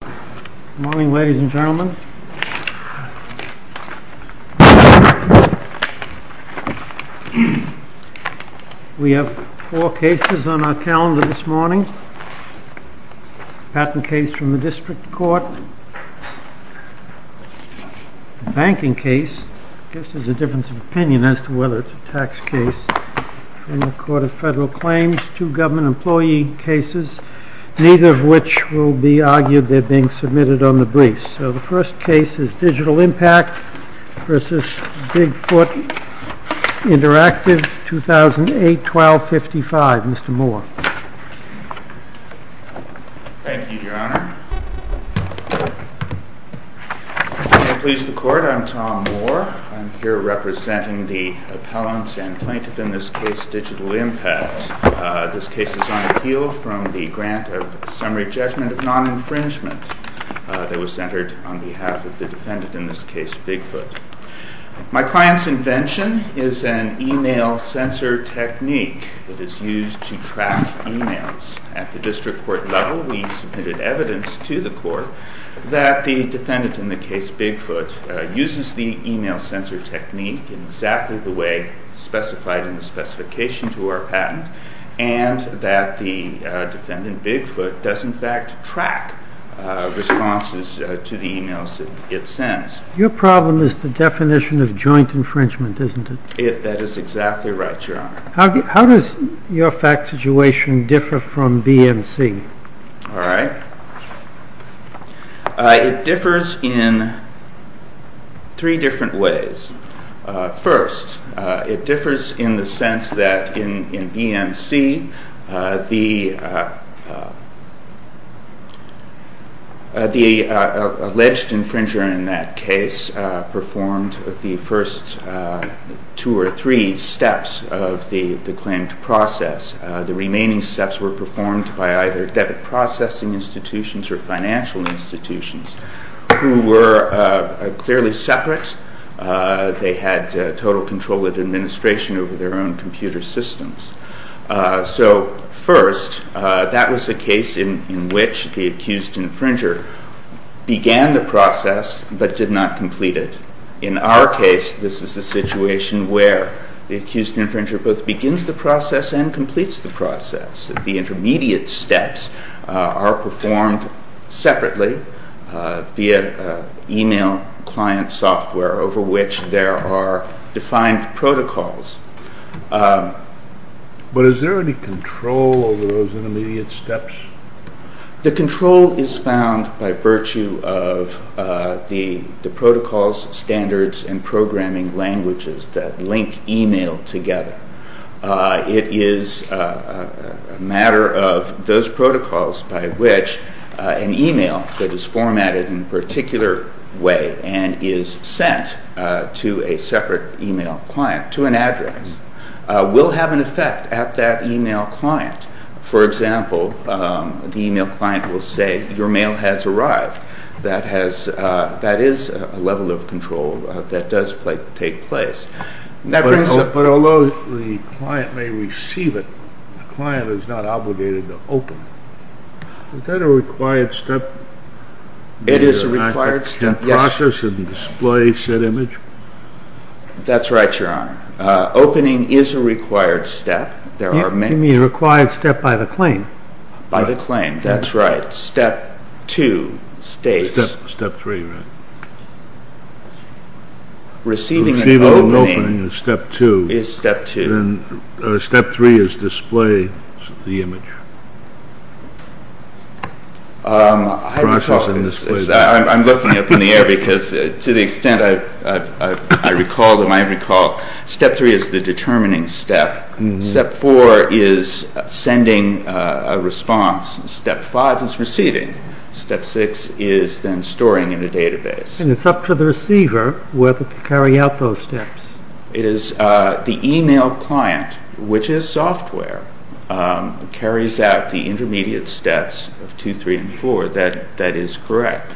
Good morning ladies and gentlemen. We have four cases on our calendar this morning, patent case from the district court, banking case, I guess there's a difference of opinion as to whether it's a tax case, federal claims, two government employee cases, neither of which will be argued, they're being submitted on the briefs. So the first case is Digital Impact v. Bigfoot Interactiv, 2008-12-55, Mr. Moore. Thank you, your honor. May it please the court, I'm Tom Moore, I'm here representing the appellant and plaintiff in this case, Digital Impact. This case is on appeal from the grant of summary judgment of non-infringement that was entered on behalf of the defendant in this case, Bigfoot. My client's invention is an email sensor technique that is used to track emails. At the district court level we submitted evidence to the court that the defendant in the case of Bigfoot uses the email sensor technique in exactly the way specified in the specification to our patent, and that the defendant Bigfoot does in fact track responses to the emails it sends. Your problem is the definition of joint infringement, isn't it? That is exactly right, your honor. How does your fact situation differ from BMC? It differs in three different ways. First, it differs in the sense that in BMC the alleged infringer in that case performed the first two or three steps of the claimed process. The remaining steps were performed by either debit processing institutions or financial institutions, who were clearly separate. They had total control of administration over their own computer systems. So first, that was a case in which the accused infringer began the process but did not complete it. In our case, this is a situation where the accused infringer both begins the process and completes the process. The intermediate steps are performed separately via email client software over which there are defined protocols. But is there any control over those intermediate steps? The control is found by virtue of the protocols, standards, and programming languages that link email together. It is a matter of those protocols by which an email that is formatted in a particular way and is sent to a separate email client, to an address, will have an effect at that email client. For example, the email client will say, your mail has arrived. That is a level of control that does take place. But although the client may receive it, the client is not obligated to open it. Is that a required step? It is a required step. In order to process and display said image? That's right, Your Honor. Opening is a required step. You mean a required step by the claim? By the claim, that's right. Step two states... Step three, right. Receiving and opening is step two. Is step two. Step three is display the image. I'm looking up in the air because to the extent I recall, step three is the determining step. Step four is sending a response. Step five is receiving. Step six is then storing in a database. And it's up to the receiver whether to carry out those steps. It is the email client, which is software, that carries out the intermediate steps of two, three, and four. That is correct.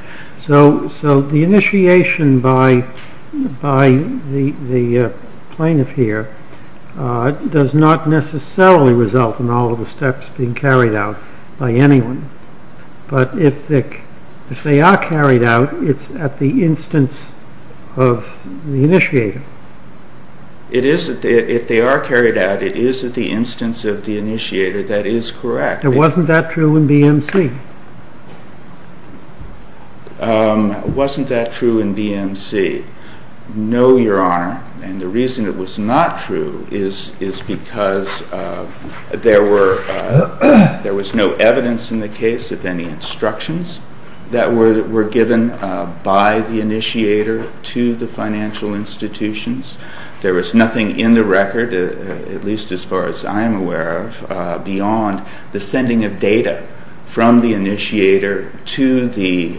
So the initiation by the plaintiff here does not necessarily result in all of the steps being carried out by anyone. But if they are carried out, it's at the instance of the initiator. If they are carried out, it is at the instance of the initiator. That is correct. Wasn't that true in BMC? Wasn't that true in BMC? No, Your Honor. And the reason it was not true is because there was no evidence in the case of any instructions that were given by the initiator to the financial institutions. There was nothing in the record, at least as far as I am aware of, beyond the sending of data from the initiator to the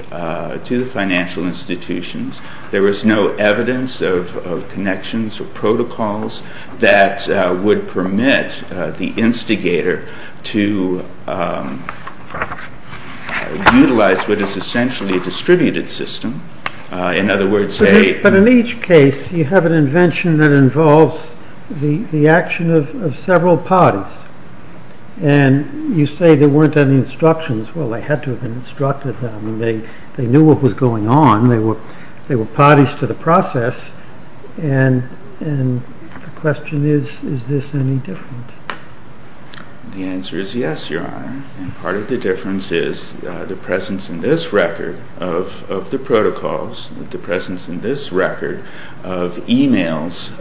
financial institutions. There was no evidence of connections or protocols that would permit the instigator to utilize what is essentially a distributed system. But in each case, you have an invention that involves the action of several parties. And you say there weren't any instructions. Well, they had to have been instructed. They knew what was going on. They were parties to the process. And the question is, is this any different? The answer is yes, Your Honor. And part of the difference is the presence in this record of the protocols, the presence in this record of emails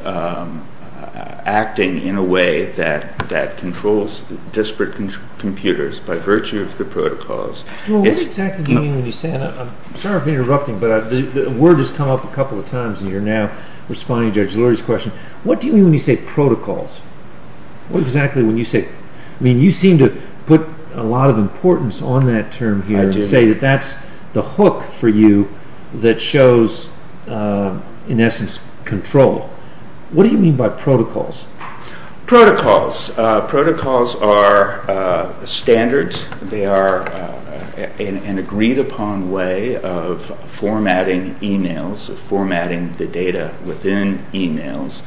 acting in a way that controls disparate computers by virtue of the protocols. What exactly do you mean when you say that? I'm sorry for interrupting, but the word has come up a couple of times, and you're now responding to Judge Lurie's question. What do you mean when you say protocols? What exactly when you say it? I mean, you seem to put a lot of importance on that term here and say that that's the hook for you that shows, in essence, control. What do you mean by protocols? Protocols. Protocols are standards. They are an agreed-upon way of formatting emails, of formatting the data within emails,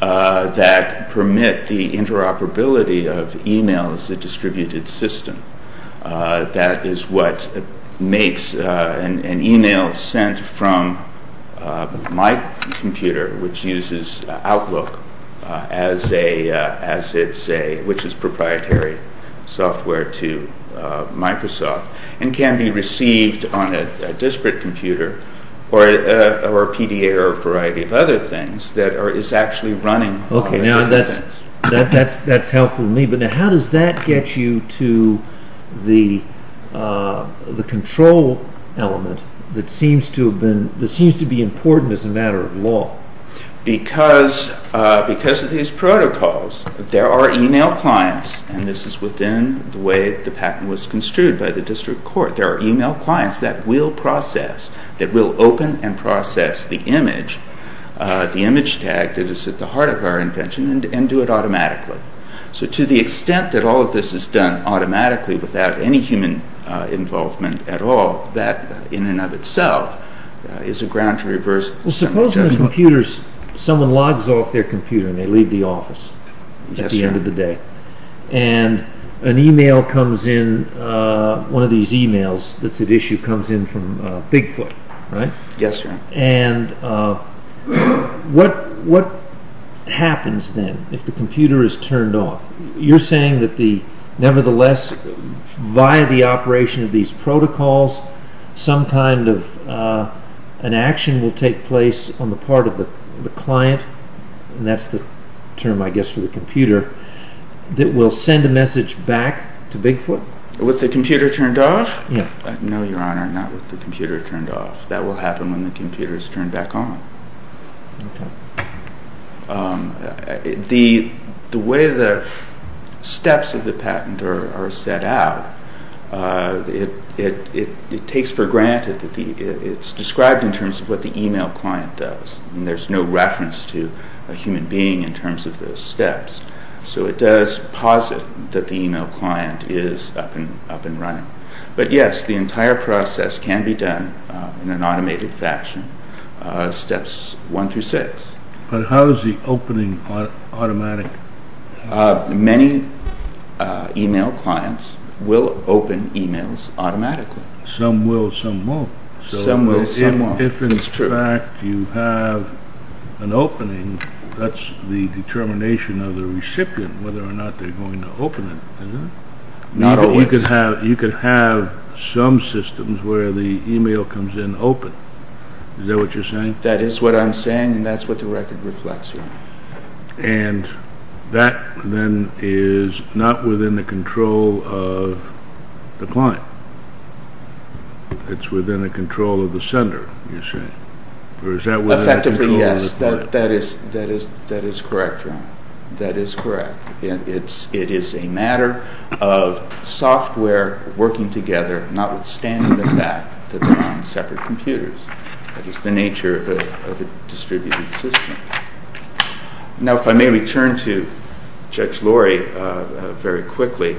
that permit the interoperability of email as a distributed system. That is what makes an email sent from my computer, which uses Outlook, which is proprietary software to Microsoft, and can be received on a disparate computer or a PDA or a variety of other things that is actually running different things. That's helpful to me, but how does that get you to the control element that seems to be important as a matter of law? Because of these protocols, there are email clients, and this is within the way the patent was construed by the district court, there are email clients that will process, that will open and process the image, the image tag that is at the heart of our invention, and do it automatically. So to the extent that all of this is done automatically without any human involvement at all, that in and of itself is a ground to reverse judgment. Suppose someone logs off their computer and they leave the office at the end of the day, and an email comes in, one of these emails that's at issue comes in from Bigfoot, right? Yes, sir. And what happens then if the computer is turned off? You're saying that nevertheless, via the operation of these protocols, some kind of an action will take place on the part of the client, and that's the term I guess for the computer, that will send a message back to Bigfoot? With the computer turned off? No, Your Honor, not with the computer turned off. That will happen when the computer is turned back on. Okay. The way the steps of the patent are set out, it takes for granted that it's described in terms of what the email client does, and there's no reference to a human being in terms of those steps. So it does posit that the email client is up and running. But yes, the entire process can be done in an automated fashion, steps one through six. But how is the opening automatic? Many email clients will open emails automatically. Some will, some won't. Some will, some won't. If, in fact, you have an opening, that's the determination of the recipient whether or not they're going to open it, isn't it? Not always. You could have some systems where the email comes in open. Is that what you're saying? That is what I'm saying, and that's what the record reflects, Your Honor. And that then is not within the control of the client. It's within the control of the sender, you're saying. Or is that within the control of the client? Effectively, yes. That is correct, Your Honor. That is correct. It is a matter of software working together, notwithstanding the fact that they're on separate computers. That is the nature of a distributed system. Now, if I may return to Judge Lorry very quickly,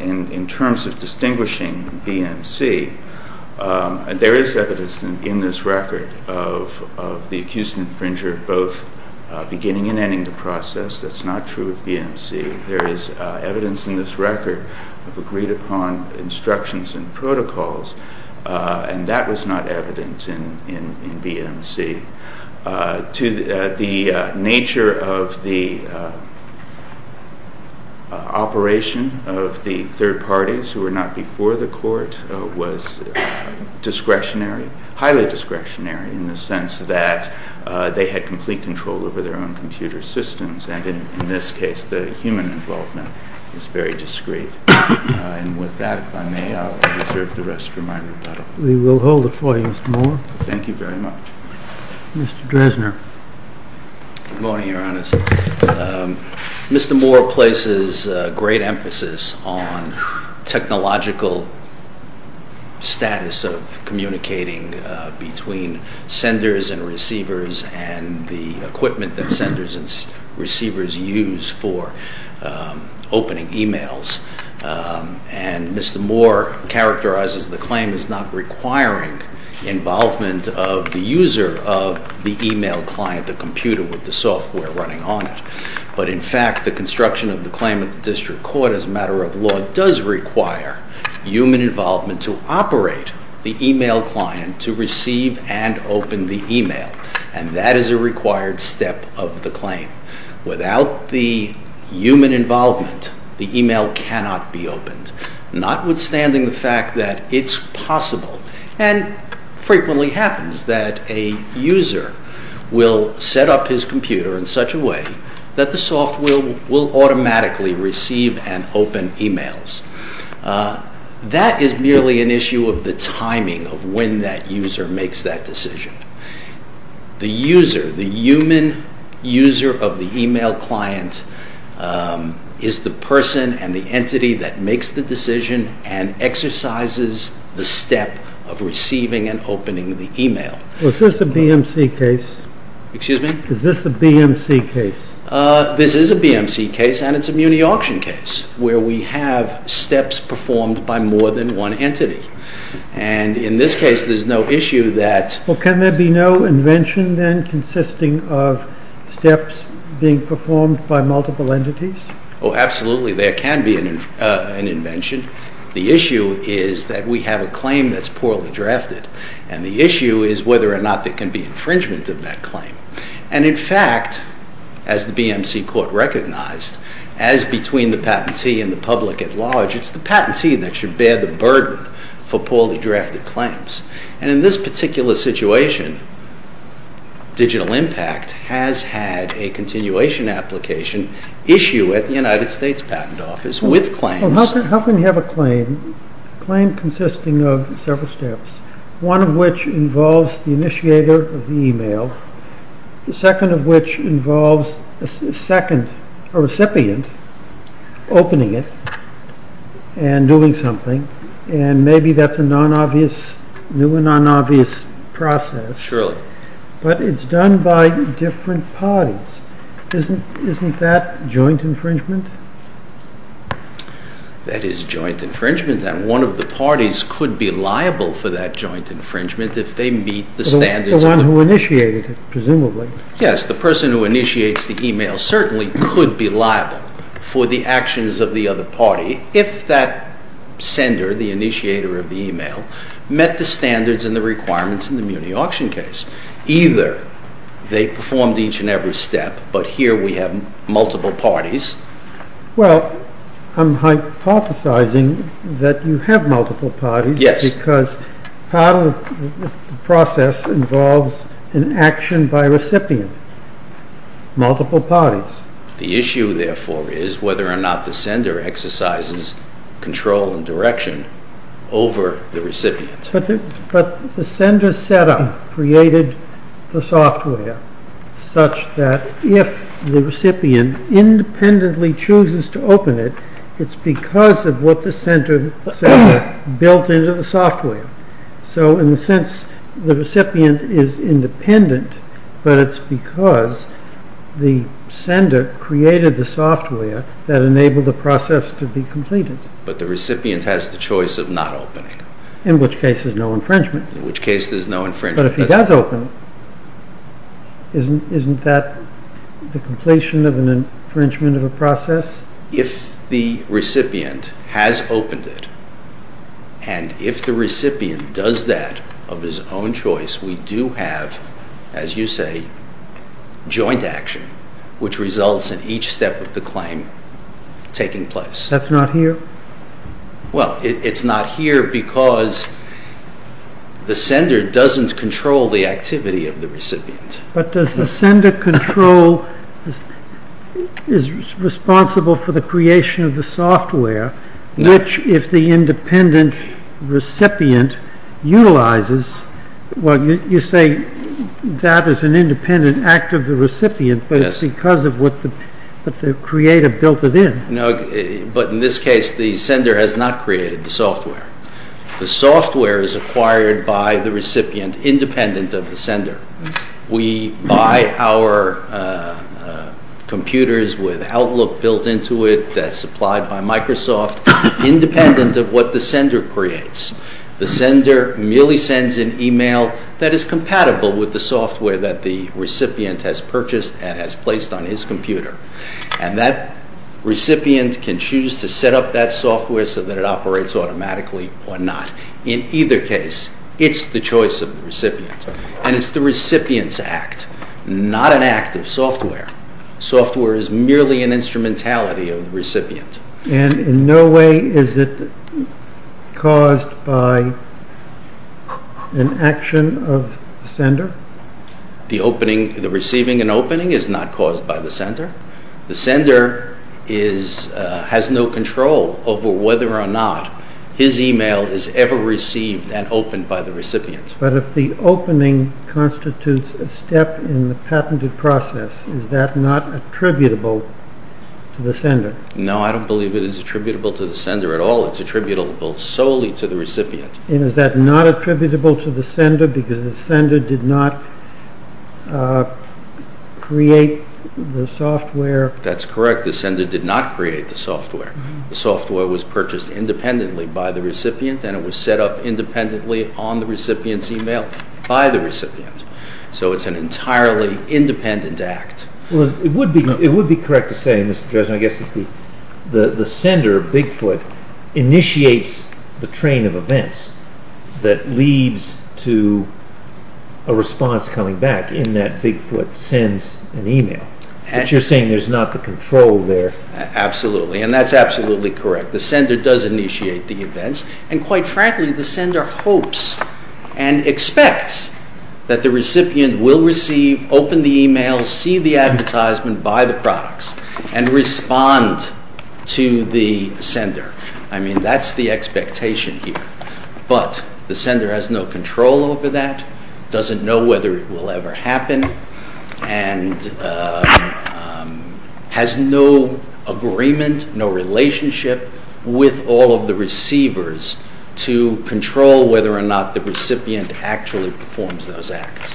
in terms of distinguishing BMC, there is evidence in this record of the accused infringer both beginning and ending the process. That's not true of BMC. There is evidence in this record of agreed-upon instructions and protocols, and that was not evident in BMC. The nature of the operation of the third parties who were not before the court was discretionary, highly discretionary, in the sense that they had complete control over their own computer systems, and in this case the human involvement is very discreet. And with that, if I may, I'll reserve the rest of my rebuttal. We will hold it for you, Mr. Moore. Thank you very much. Mr. Dresner. Good morning, Your Honor. Mr. Moore places great emphasis on technological status of communicating between senders and receivers and the equipment that senders and receivers use for opening e-mails. And Mr. Moore characterizes the claim as not requiring involvement of the user of the e-mail client, the computer with the software running on it. But, in fact, the construction of the claim at the district court as a matter of law does require human involvement to operate the e-mail client to receive and open the e-mail, and that is a required step of the claim. Without the human involvement, the e-mail cannot be opened, notwithstanding the fact that it's possible and frequently happens that a user will set up his computer in such a way that the software will automatically receive and open e-mails. That is merely an issue of the timing of when that user makes that decision. The user, the human user of the e-mail client is the person and the entity that makes the decision and exercises the step of receiving and opening the e-mail. Is this a BMC case? Excuse me? Is this a BMC case? This is a BMC case, and it's a muni-auction case, where we have steps performed by more than one entity. And, in this case, there's no issue that... Well, can there be no invention, then, consisting of steps being performed by multiple entities? Oh, absolutely, there can be an invention. The issue is that we have a claim that's poorly drafted, and the issue is whether or not there can be infringement of that claim. And, in fact, as the BMC court recognized, as between the patentee and the public at large, it's the patentee that should bear the burden for poorly drafted claims. And, in this particular situation, Digital Impact has had a continuation application issue at the United States Patent Office with claims... Well, how can you have a claim, a claim consisting of several steps, one of which involves the initiator of the email, the second of which involves a recipient opening it and doing something, and maybe that's a new and non-obvious process. Surely. But it's done by different parties. Isn't that joint infringement? That is joint infringement. And one of the parties could be liable for that joint infringement if they meet the standards... The one who initiated it, presumably. Yes, the person who initiates the email certainly could be liable for the actions of the other party if that sender, the initiator of the email, met the standards and the requirements in the Muni Auction case. Either they performed each and every step, but here we have multiple parties... Well, I'm hypothesizing that you have multiple parties... Yes. ...because part of the process involves an action by a recipient. Multiple parties. The issue, therefore, is whether or not the sender exercises control and direction over the recipient. But the sender set up, created the software such that if the recipient independently chooses to open it, it's because of what the sender built into the software. So, in a sense, the recipient is independent, but it's because the sender created the software that enabled the process to be completed. But the recipient has the choice of not opening. In which case there's no infringement. In which case there's no infringement. But if he does open, isn't that the completion of an infringement of a process? If the recipient has opened it, and if the recipient does that of his own choice, we do have, as you say, joint action, which results in each step of the claim taking place. That's not here? Well, it's not here because the sender doesn't control the activity of the recipient. But does the sender control, is responsible for the creation of the software, which, if the independent recipient utilizes, well, you say that is an independent act of the recipient, but it's because of what the creator built it in. But in this case, the sender has not created the software. The software is acquired by the recipient, independent of the sender. We buy our computers with Outlook built into it, that's supplied by Microsoft, independent of what the sender creates. The sender merely sends an email that is compatible with the software that the recipient has purchased and has placed on his computer. And that recipient can choose to set up that software so that it operates automatically or not. In either case, it's the choice of the recipient. And it's the recipient's act, not an act of software. Software is merely an instrumentality of the recipient. And in no way is it caused by an action of the sender? The receiving an opening is not caused by the sender. The sender has no control over whether or not his email is ever received and opened by the recipient. But if the opening constitutes a step in the patented process, is that not attributable to the sender? No, I don't believe it is attributable to the sender at all. It's attributable solely to the recipient. And is that not attributable to the sender because the sender did not create the software? That's correct. The sender did not create the software. The software was purchased independently by the recipient and it was set up independently on the recipient's email by the recipient. So it's an entirely independent act. Well, it would be correct to say, Mr. Judge, I guess, that the sender, Bigfoot, initiates the train of events that leads to a response coming back in that Bigfoot sends an email. But you're saying there's not the control there. Absolutely. And that's absolutely correct. The sender does initiate the events. And quite frankly, the sender hopes and expects that the recipient will receive, open the email, see the advertisement, buy the products, and respond to the sender. I mean, that's the expectation here. But the sender has no control over that, doesn't know whether it will ever happen, and has no agreement, no relationship with all of the receivers to control whether or not the recipient actually performs those acts.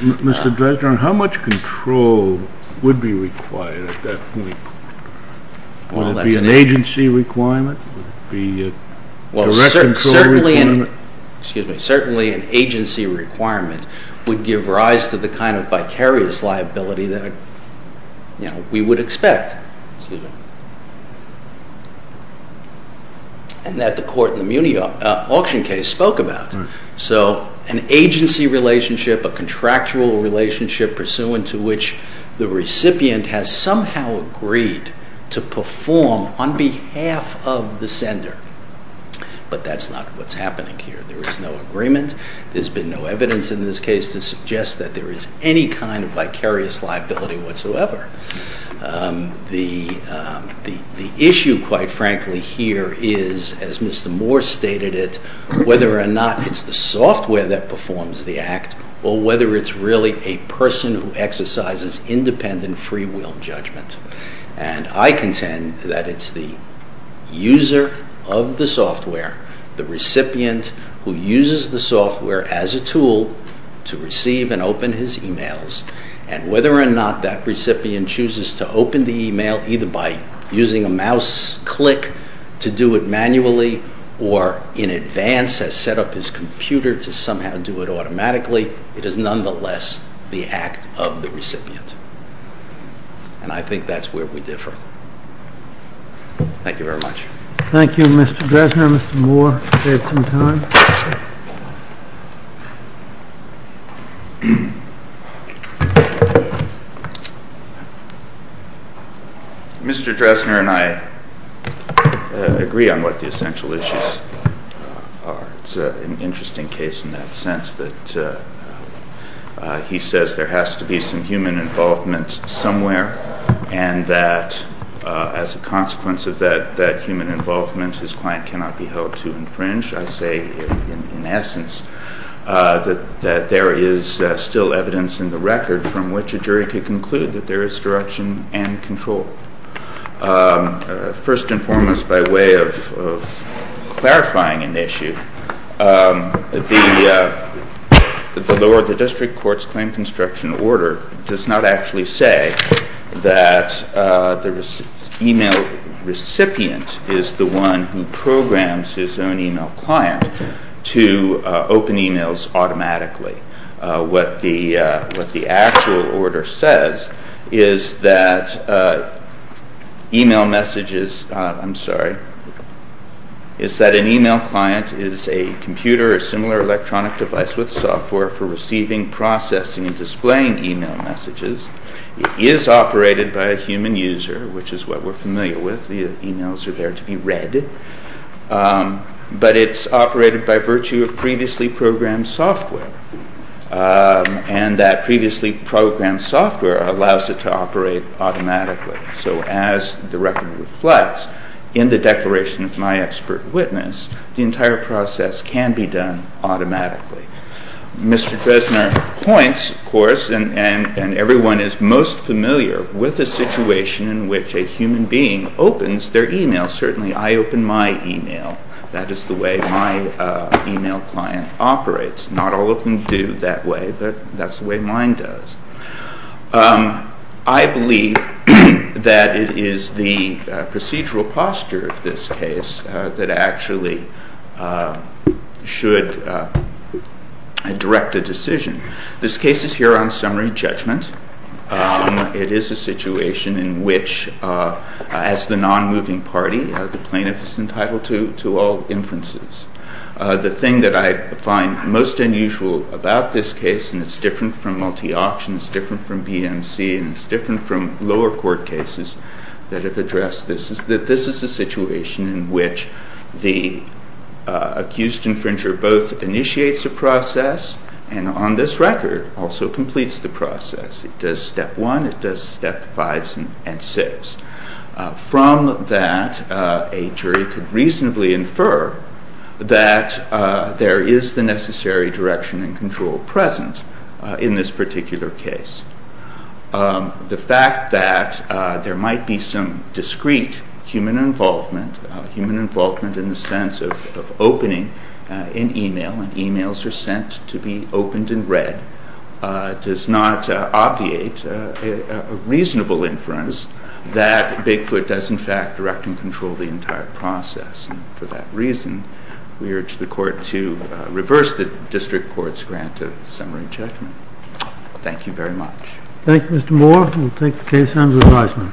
Mr. Dresden, how much control would be required at that point? Would it be an agency requirement? Would it be a direct control requirement? Well, certainly an agency requirement would give rise to the kind of vicarious liability that we would expect, and that the court in the Muni auction case spoke about. So an agency relationship, a contractual relationship, pursuant to which the recipient has somehow agreed to perform on behalf of the sender. But that's not what's happening here. There is no agreement. There's been no evidence in this case to suggest that there is any kind of vicarious liability whatsoever. The issue, quite frankly, here is, as Mr. Moore stated it, whether or not it's the software that performs the act, or whether it's really a person who exercises independent free will judgment. And I contend that it's the user of the software, the recipient who uses the software as a tool to receive and open his emails, and whether or not that recipient chooses to open the email either by using a mouse click to do it manually, or in advance has set up his computer to somehow do it automatically, it is nonetheless the act of the recipient. And I think that's where we differ. Thank you very much. Thank you, Mr. Dresner. Mr. Moore, you have some time. Mr. Dresner and I agree on what the essential issues are. It's an interesting case in that sense that he says there has to be some human involvement somewhere, and that as a consequence of that human involvement, his client cannot be held to infringe. I say, in essence, that there is still evidence in the record from which a jury could conclude that there is direction and control. First and foremost, by way of clarifying an issue, the District Courts Claim Construction Order does not actually say that the email recipient is the one who programs his own email client to open emails automatically. What the actual order says is that an email client is a computer or similar electronic device with software for receiving, processing, and displaying email messages. It is operated by a human user, which is what we're familiar with. The emails are there to be read. But it's operated by virtue of previously programmed software. And that previously programmed software allows it to operate automatically. So as the record reflects, in the declaration of my expert witness, the entire process can be done automatically. Mr. Dresner points, of course, and everyone is most familiar with the situation in which a human being opens their email. Certainly I open my email. That is the way my email client operates. Not all of them do that way, but that's the way mine does. I believe that it is the procedural posture of this case that actually should direct a decision. This case is here on summary judgment. It is a situation in which, as the non-moving party, the plaintiff is entitled to all inferences. The thing that I find most unusual about this case, and it's different from multi-auctions, it's different from BMC, and it's different from lower court cases that have addressed this, is that this is a situation in which the accused infringer both initiates a process and on this record also completes the process. It does step one, it does step fives and six. From that, a jury could reasonably infer that there is the necessary direction and control present in this particular case. The fact that there might be some discreet human involvement, human involvement in the sense of opening an email, and emails are sent to be opened and read, does not obviate a reasonable inference that Bigfoot does in fact direct and control the entire process. For that reason, we urge the court to reverse the district court's grant of summary judgment. Thank you very much. Thank you, Mr. Moore. We'll take the case under advisement.